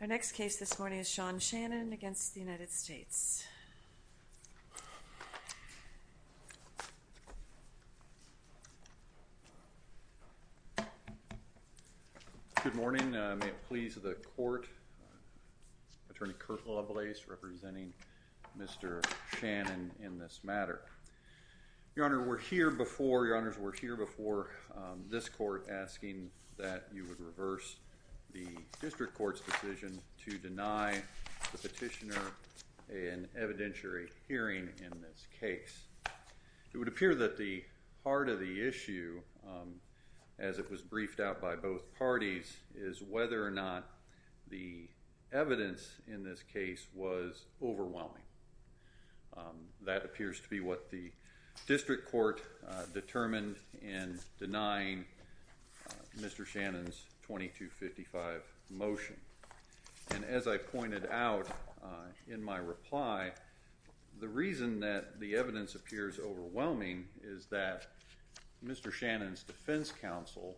Our next case this morning is Sean Shannon v. United States. Good morning. May it please the court, Attorney Kirk Lablace representing Mr. Shannon in this case. It appears that you would reverse the district court's decision to deny the petitioner an evidentiary hearing in this case. It would appear that the heart of the issue as it was briefed out by both parties is whether or not the evidence in this case was overwhelming. That appears to be what the district court determined in denying Mr. Shannon's 2255 motion. And as I pointed out in my reply, the reason that the evidence appears overwhelming is that Mr. Shannon's defense counsel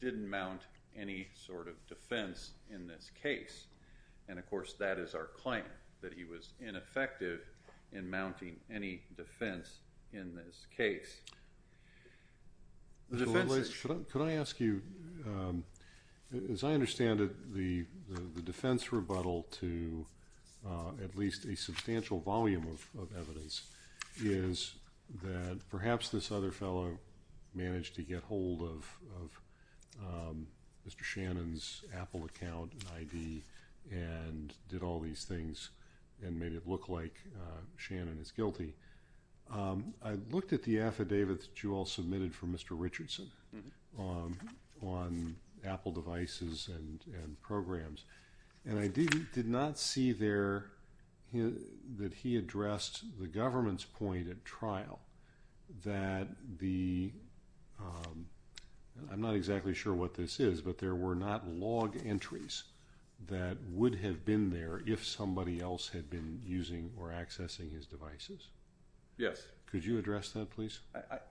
didn't mount any sort of defense in this case. And, of course, that is our claim, that he was ineffective in mounting any defense in this case. Mr. Lablace, could I ask you, as I understand it, the defense rebuttal to at least a substantial volume of evidence is that perhaps this other fellow managed to get hold of Mr. Shannon's Apple account and ID and did all these things and made it look like Shannon is guilty. I looked at the affidavit that you all submitted for Mr. Richardson on Apple devices and programs and I did not see there that he addressed the government's point at trial that the, I'm not exactly sure what this is, but there were not log entries that would have been there if somebody else had been using or accessing his devices. Yes. Could you address that, please?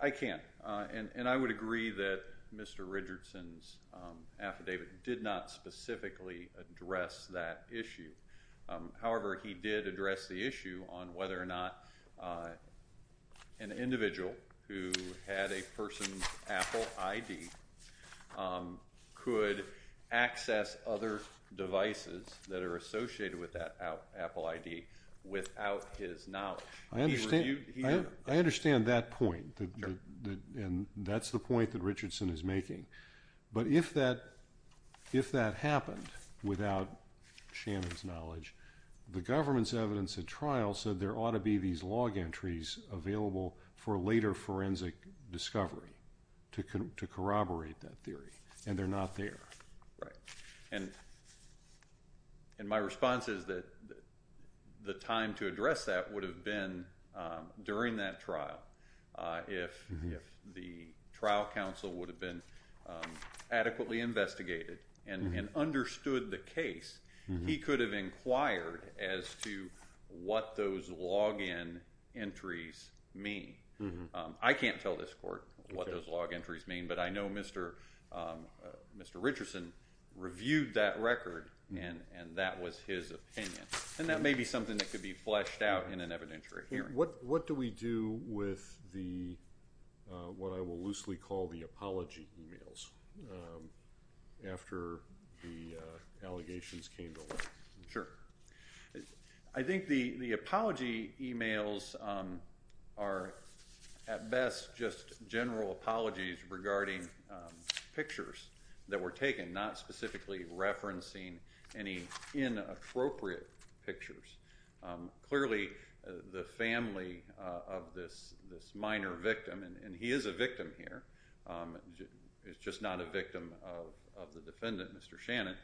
I can't. And I would agree that Mr. Richardson's affidavit did not specifically address that issue. However, he did address the issue on whether or not an individual who had a person's Apple ID could access other devices that are associated with that Apple ID without his knowledge. I understand that point, and that's the point that Richardson is making. But if that happened without Shannon's knowledge, the government's evidence at trial said there ought to be these log entries available for later forensic discovery to corroborate that theory, and they're not there. Right. And my response is that the time to address that would have been during that trial if the trial counsel would have been adequately investigated and understood the case. He could have inquired as to what those log-in entries mean. I can't tell this court what those log entries mean, but I know Mr. Richardson reviewed that record, and that was his opinion. And that may be something that could be fleshed out in an evidentiary hearing. What do we do with what I will loosely call the apology emails after the allegations came to light? Sure. I think the apology emails are at best just general apologies regarding pictures that were taken, not specifically referencing any inappropriate pictures. Clearly, the family of this minor victim, and he is a victim here, he's just not a victim of the defendant, Mr. Shannon,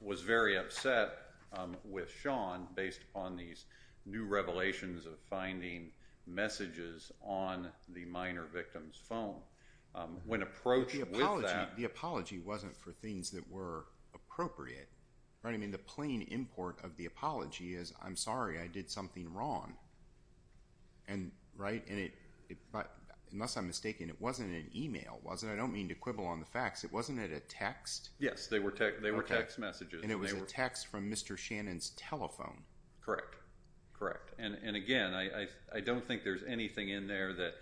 was very upset with Sean based upon these new revelations of finding messages on the minor victim's phone. When approached with that. The apology wasn't for things that were appropriate. The plain import of the apology is, I'm sorry, I did something wrong. Unless I'm mistaken, it wasn't an email, was it? I don't mean to quibble on the facts. It wasn't a text? Yes, they were text messages. And it was a text from Mr. Shannon's telephone? Correct. And, again, I don't think there's anything in there that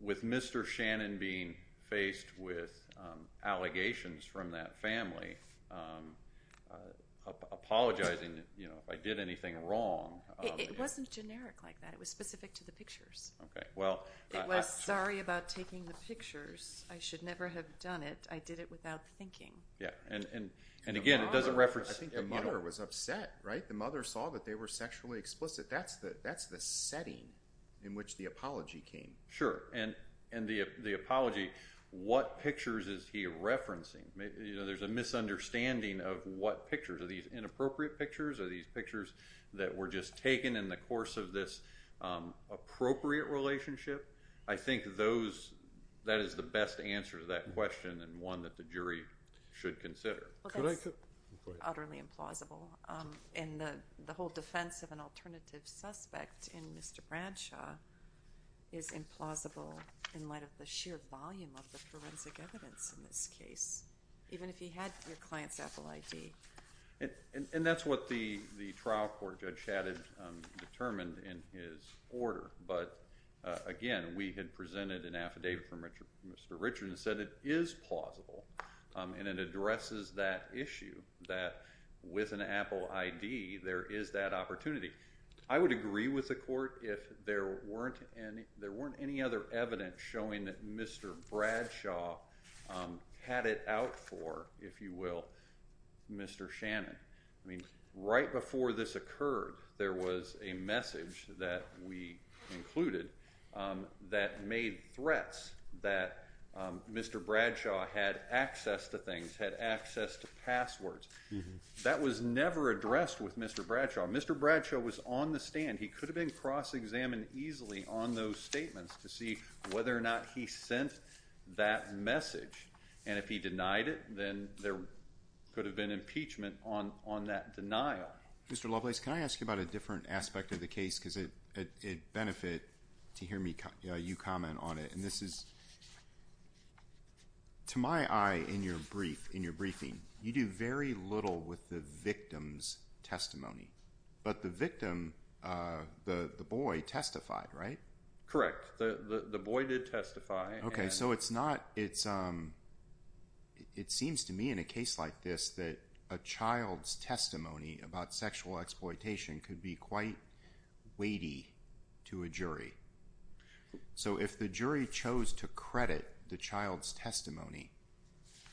with Mr. Shannon being faced with allegations from that family, apologizing, you know, if I did anything wrong. It wasn't generic like that. It was specific to the pictures. Okay. It was, sorry about taking the pictures. I should never have done it. I did it without thinking. And, again, it doesn't reference. I think the mother was upset, right? The mother saw that they were sexually explicit. That's the setting in which the apology came. Sure. And the apology, what pictures is he referencing? You know, there's a misunderstanding of what pictures. Are these inappropriate pictures? Are these pictures that were just taken in the course of this appropriate relationship? I think those, that is the best answer to that question and one that the jury should consider. Well, that's utterly implausible. And the whole defense of an alternative suspect in Mr. Bradshaw is implausible in light of the sheer volume of the forensic evidence in this case, even if he had your client's Apple ID. And that's what the trial court, Judge Shannon, determined in his order. But, again, we had presented an affidavit from Mr. Richard and said it is plausible. And it addresses that issue that with an Apple ID there is that opportunity. I would agree with the court if there weren't any other evidence showing that Mr. Bradshaw had it out for, if you will, Mr. Shannon. I mean, right before this occurred, there was a message that we included that made threats that Mr. Bradshaw had access to things, had access to passwords. That was never addressed with Mr. Bradshaw. Mr. Bradshaw was on the stand. He could have been cross-examined easily on those statements to see whether or not he sent that message. And if he denied it, then there could have been impeachment on that denial. Mr. Lovelace, can I ask you about a different aspect of the case because it would benefit to hear you comment on it. And this is, to my eye, in your briefing, you do very little with the victim's testimony. But the victim, the boy, testified, right? Correct. The boy did testify. Okay, so it's not – it seems to me in a case like this that a child's testimony about sexual exploitation could be quite weighty to a jury. So if the jury chose to credit the child's testimony,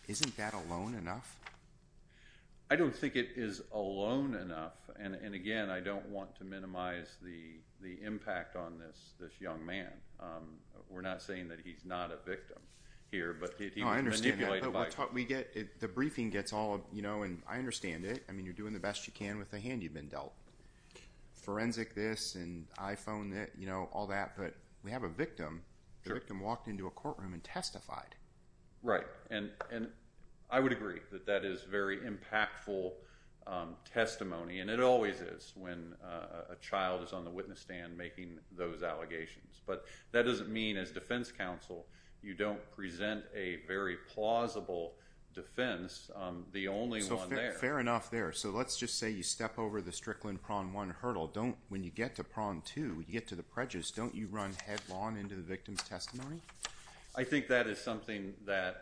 isn't that alone enough? I don't think it is alone enough. And, again, I don't want to minimize the impact on this young man. We're not saying that he's not a victim here. Oh, I understand. But the briefing gets all – I understand it. I mean you're doing the best you can with the hand you've been dealt. Forensic this and iPhone that, you know, all that. But we have a victim. The victim walked into a courtroom and testified. Right. And I would agree that that is very impactful testimony. And it always is when a child is on the witness stand making those allegations. But that doesn't mean, as defense counsel, you don't present a very plausible defense. The only one there – So fair enough there. So let's just say you step over the Strickland Prawn 1 hurdle. When you get to Prawn 2, when you get to the prejudice, don't you run headlong into the victim's testimony? I think that is something that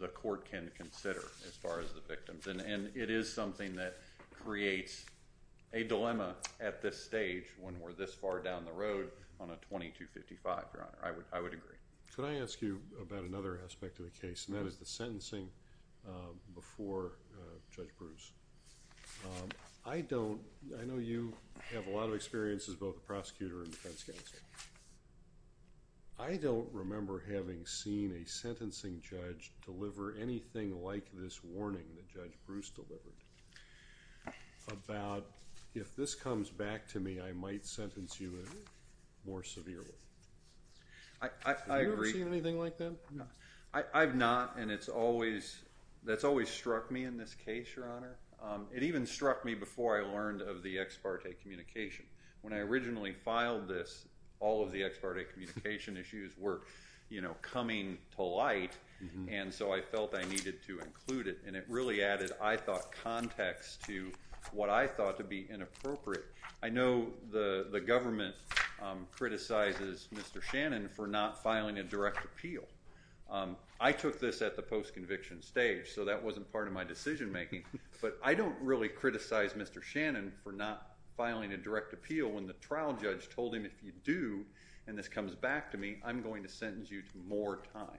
the court can consider as far as the victims. And it is something that creates a dilemma at this stage when we're this far down the road on a 2255, Your Honor. I would agree. Could I ask you about another aspect of the case? And that is the sentencing before Judge Bruce. I don't – I know you have a lot of experience as both a prosecutor and defense counsel. I don't remember having seen a sentencing judge deliver anything like this warning that Judge Bruce delivered about, if this comes back to me, I might sentence you more severely. I agree. Have you ever seen anything like that? I've not, and it's always – that's always struck me in this case, Your Honor. It even struck me before I learned of the ex parte communication. When I originally filed this, all of the ex parte communication issues were, you know, coming to light. And so I felt I needed to include it. And it really added, I thought, context to what I thought to be inappropriate. I know the government criticizes Mr. Shannon for not filing a direct appeal. I took this at the post-conviction stage, so that wasn't part of my decision making. But I don't really criticize Mr. Shannon for not filing a direct appeal when the trial judge told him, if you do and this comes back to me, I'm going to sentence you to more time.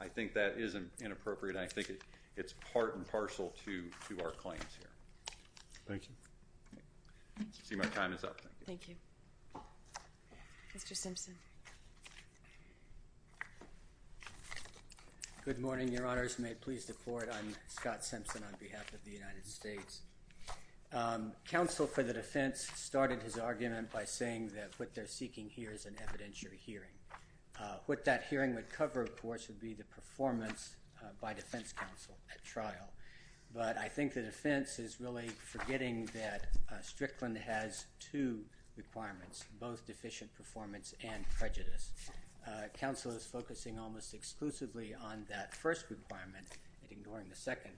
I think that is inappropriate. I think it's part and parcel to our claims here. Thank you. I see my time is up. Thank you. Good morning, Your Honors. May it please the Court. I'm Scott Simpson on behalf of the United States. Counsel for the defense started his argument by saying that what they're seeking here is an evidentiary hearing. What that hearing would cover, of course, would be the performance by defense counsel at trial. But I think the defense is really forgetting that Strickland has two requirements, both deficient performance and prejudice. Counsel is focusing almost exclusively on that first requirement and ignoring the second.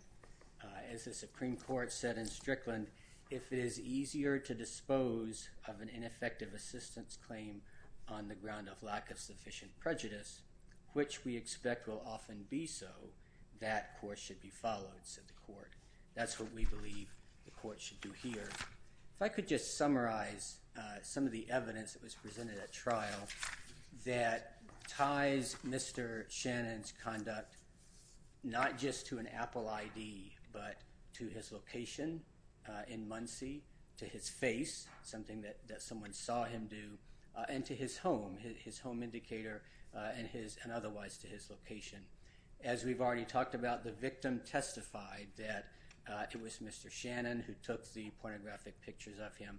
As the Supreme Court said in Strickland, if it is easier to dispose of an ineffective assistance claim on the ground of lack of sufficient prejudice, which we expect will often be so, that court should be followed, said the court. That's what we believe the court should do here. If I could just summarize some of the evidence that was presented at trial, that ties Mr. Shannon's conduct not just to an Apple ID, but to his location in Muncie, to his face, something that someone saw him do, and to his home, his home indicator, and otherwise to his location. As we've already talked about, the victim testified that it was Mr. Shannon who took the pornographic pictures of him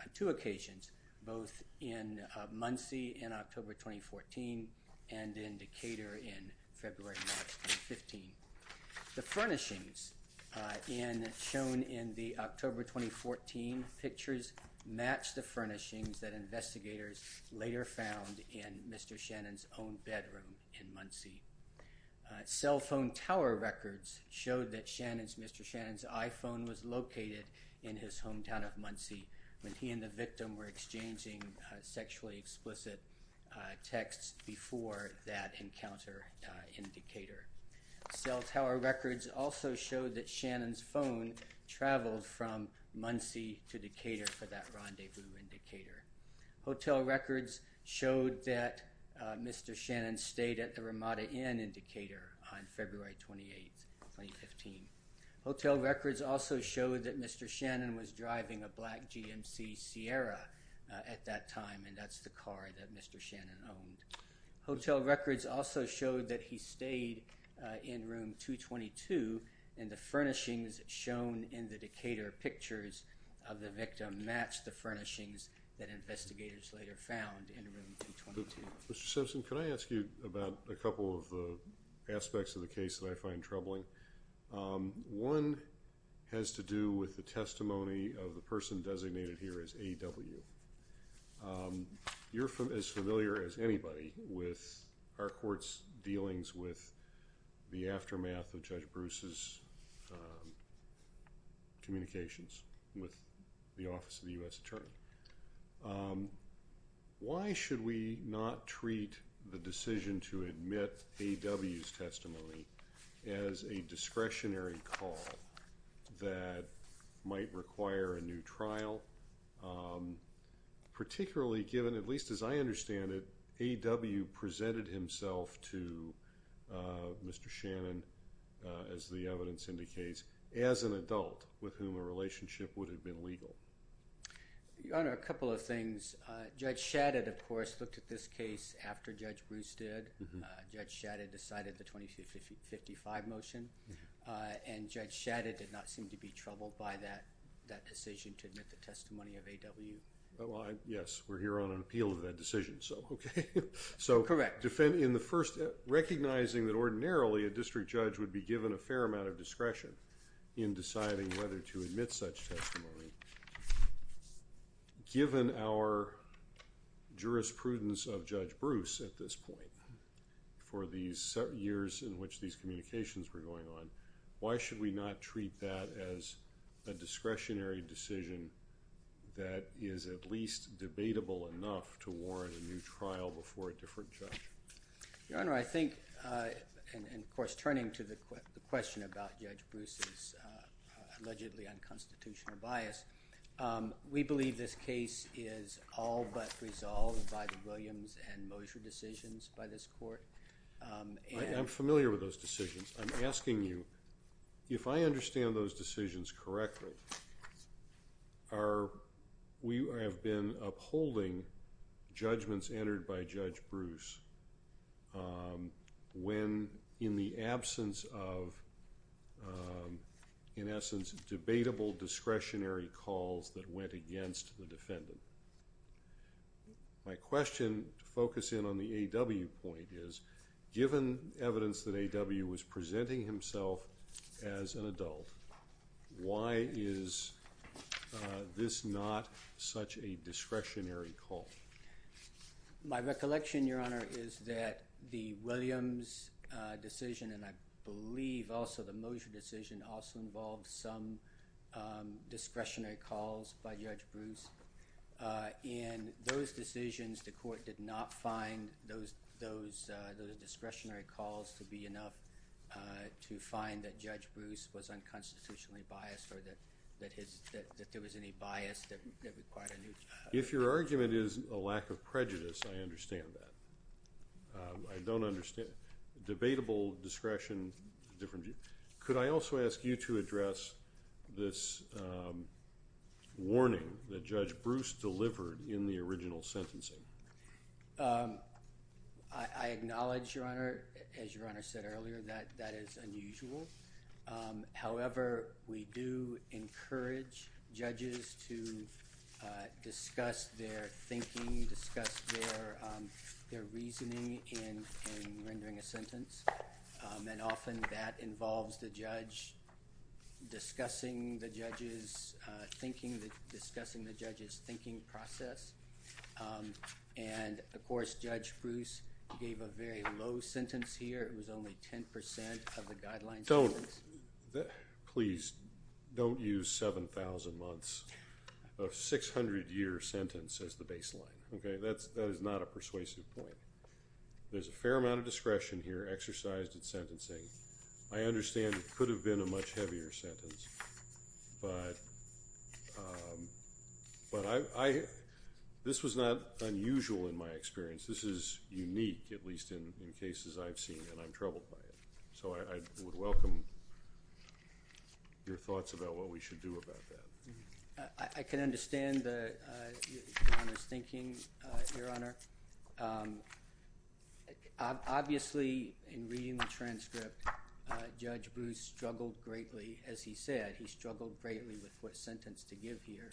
on two occasions, both in Muncie in October 2014 and in Decatur in February 2015. The furnishings shown in the October 2014 pictures match the furnishings that investigators later found in Mr. Shannon's own bedroom in Muncie. Cell phone tower records showed that Mr. Shannon's iPhone was located in his hometown of Muncie when he and the victim were exchanging sexually explicit texts before that encounter in Decatur. Cell tower records also showed that Shannon's phone traveled from Muncie to Decatur for that rendezvous in Decatur. Hotel records showed that Mr. Shannon stayed at the Ramada Inn in Decatur on February 28, 2015. Hotel records also showed that Mr. Shannon was driving a black GMC Sierra at that time, and that's the car that Mr. Shannon owned. Hotel records also showed that he stayed in room 222, and the furnishings shown in the Decatur pictures of the victim match the furnishings that investigators later found in room 222. Mr. Simpson, can I ask you about a couple of the aspects of the case that I find troubling? One has to do with the testimony of the person designated here as A.W. You're as familiar as anybody with our court's dealings with the aftermath of Judge Bruce's communications with the Office of the U.S. Attorney. Why should we not treat the decision to admit A.W.'s testimony as a discretionary call that might require a new trial, particularly given, at least as I understand it, A.W. presented himself to Mr. Shannon, as the evidence indicates, as an adult with whom a relationship would have been legal? Your Honor, a couple of things. Judge Shadid, of course, looked at this case after Judge Bruce did. Judge Shadid decided the 2055 motion, and Judge Shadid did not seem to be troubled by that decision to admit the testimony of A.W. Yes, we're here on an appeal of that decision, so okay. Correct. Recognizing that ordinarily a district judge would be given a fair amount of discretion in deciding whether to admit such testimony, given our jurisprudence of Judge Bruce at this point for the years in which these communications were going on, why should we not treat that as a discretionary decision that is at least debatable enough to warrant a new trial before a different judge? Your Honor, I think, and of course turning to the question about Judge Bruce's allegedly unconstitutional bias, we believe this case is all but resolved by the Williams and Moser decisions by this court. I'm familiar with those decisions. I'm asking you, if I understand those decisions correctly, we have been upholding judgments entered by Judge Bruce when in the absence of, in essence, debatable discretionary calls that went against the defendant. My question to focus in on the A.W. point is, given evidence that A.W. was presenting himself as an adult, why is this not such a discretionary call? My recollection, Your Honor, is that the Williams decision, and I believe also the Moser decision, also involved some discretionary calls by Judge Bruce. In those decisions, the court did not find those discretionary calls to be enough to find that Judge Bruce was unconstitutionally biased or that there was any bias that required a new trial. If your argument is a lack of prejudice, I understand that. I don't understand. Debatable discretion, different view. Could I also ask you to address this warning that Judge Bruce delivered in the original sentencing? I acknowledge, Your Honor, as Your Honor said earlier, that that is unusual. However, we do encourage judges to discuss their thinking, discuss their reasoning in rendering a sentence, and often that involves the judge discussing the judge's thinking process. And, of course, Judge Bruce gave a very low sentence here. It was only 10% of the guideline sentence. Please don't use 7,000 months of 600-year sentence as the baseline. That is not a persuasive point. There's a fair amount of discretion here exercised in sentencing. I understand it could have been a much heavier sentence, but this was not unusual in my experience. This is unique, at least in cases I've seen, and I'm troubled by it. So I would welcome your thoughts about what we should do about that. I can understand Your Honor's thinking, Your Honor. Obviously, in reading the transcript, Judge Bruce struggled greatly. As he said, he struggled greatly with what sentence to give here.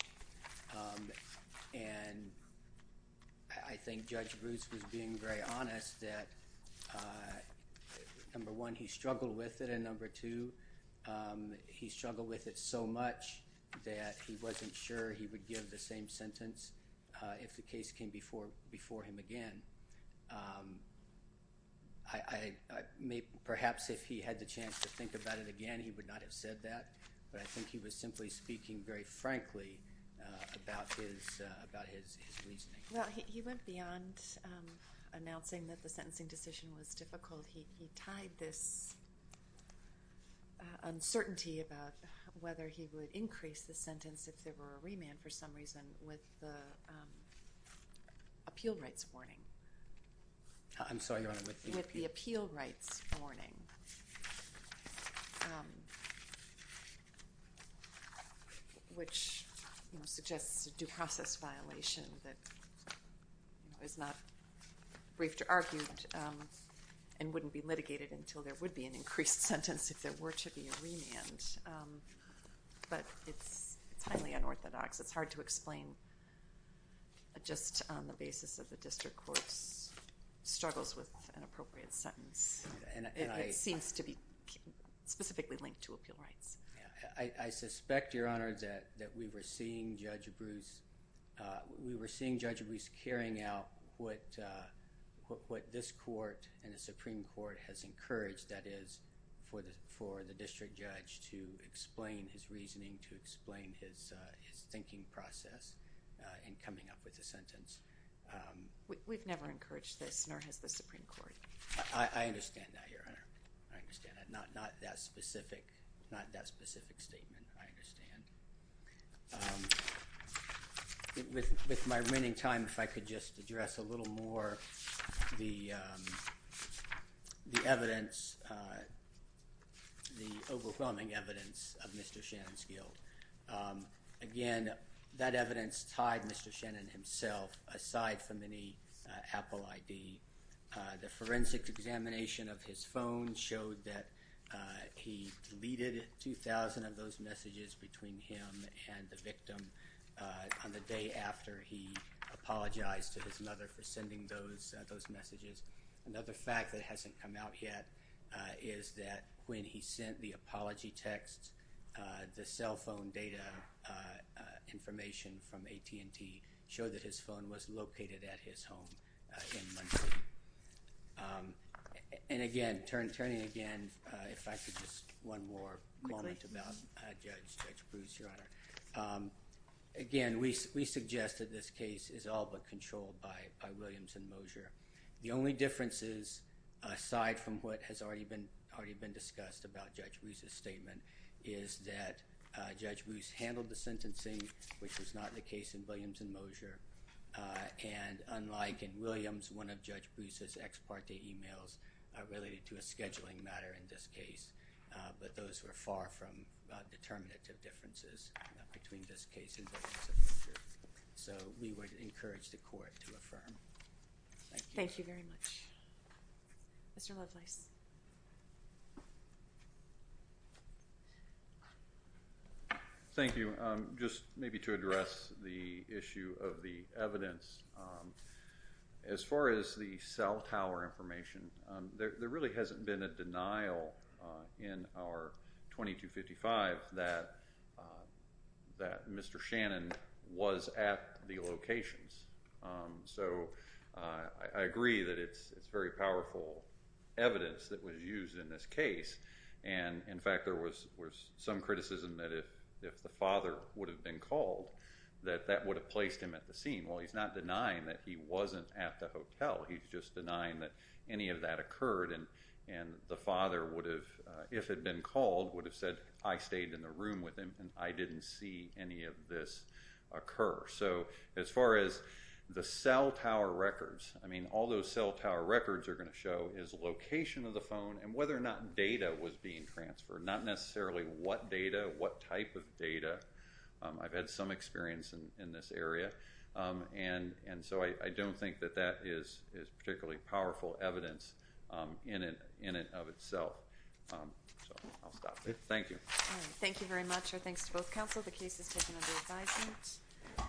And I think Judge Bruce was being very honest that, number one, he struggled with it, and, number two, he struggled with it so much that he wasn't sure he would give the same sentence if the case came before him again. Perhaps if he had the chance to think about it again, he would not have said that, but I think he was simply speaking very frankly about his reasoning. Well, he went beyond announcing that the sentencing decision was difficult. He tied this uncertainty about whether he would increase the sentence if there were a remand for some reason with the appeal rights warning. I'm sorry, Your Honor. With the appeal rights warning, which suggests a due process violation that is not briefed or argued and wouldn't be litigated until there would be an increased sentence if there were to be a remand, but it's highly unorthodox. It's hard to explain just on the basis of the district court's struggles with an appropriate sentence. It seems to be specifically linked to appeal rights. I suspect, Your Honor, that we were seeing Judge Bruce carrying out what this court and the Supreme Court has encouraged, that is, for the district judge to explain his reasoning, to explain his thinking process in coming up with a sentence. We've never encouraged this, nor has the Supreme Court. I understand that, Your Honor. I understand that. Not that specific statement, I understand. With my remaining time, if I could just address a little more the evidence, the overwhelming evidence of Mr. Shannon's guilt. Again, that evidence tied Mr. Shannon himself, aside from any Apple ID. The forensic examination of his phone showed that he deleted 2,000 of those messages between him and the victim on the day after he apologized to his mother for sending those messages. Another fact that hasn't come out yet is that when he sent the apology text, the cell phone data information from AT&T showed that his phone was located at his home in Muncie. And again, turning again, if I could just one more moment about Judge Bruce, Your Honor. Again, we suggest that this case is all but controlled by Williams and Mosier. The only differences, aside from what has already been discussed about Judge Bruce's statement, is that Judge Bruce handled the sentencing, which was not the case in Williams and Mosier, and unlike in Williams, one of Judge Bruce's ex parte emails related to a scheduling matter in this case. But those were far from determinative differences between this case and Williams and Mosier. So we would encourage the court to affirm. Thank you. Thank you very much. Mr. Lovelace. Thank you. Just maybe to address the issue of the evidence, as far as the cell tower information, there really hasn't been a denial in our 2255 that Mr. Shannon was at the locations. So I agree that it's very powerful evidence that was used in this case. And, in fact, there was some criticism that if the father would have been called, that that would have placed him at the scene. Well, he's not denying that he wasn't at the hotel. He's just denying that any of that occurred and the father would have, if had been called, would have said, I stayed in the room with him and I didn't see any of this occur. So as far as the cell tower records, I mean, all those cell tower records are going to show is location of the phone and whether or not data was being transferred, not necessarily what data, what type of data. I've had some experience in this area. And so I don't think that that is particularly powerful evidence in and of itself. So I'll stop there. Thank you. Thank you very much. Our thanks to both counsel. The case is taken under advisement.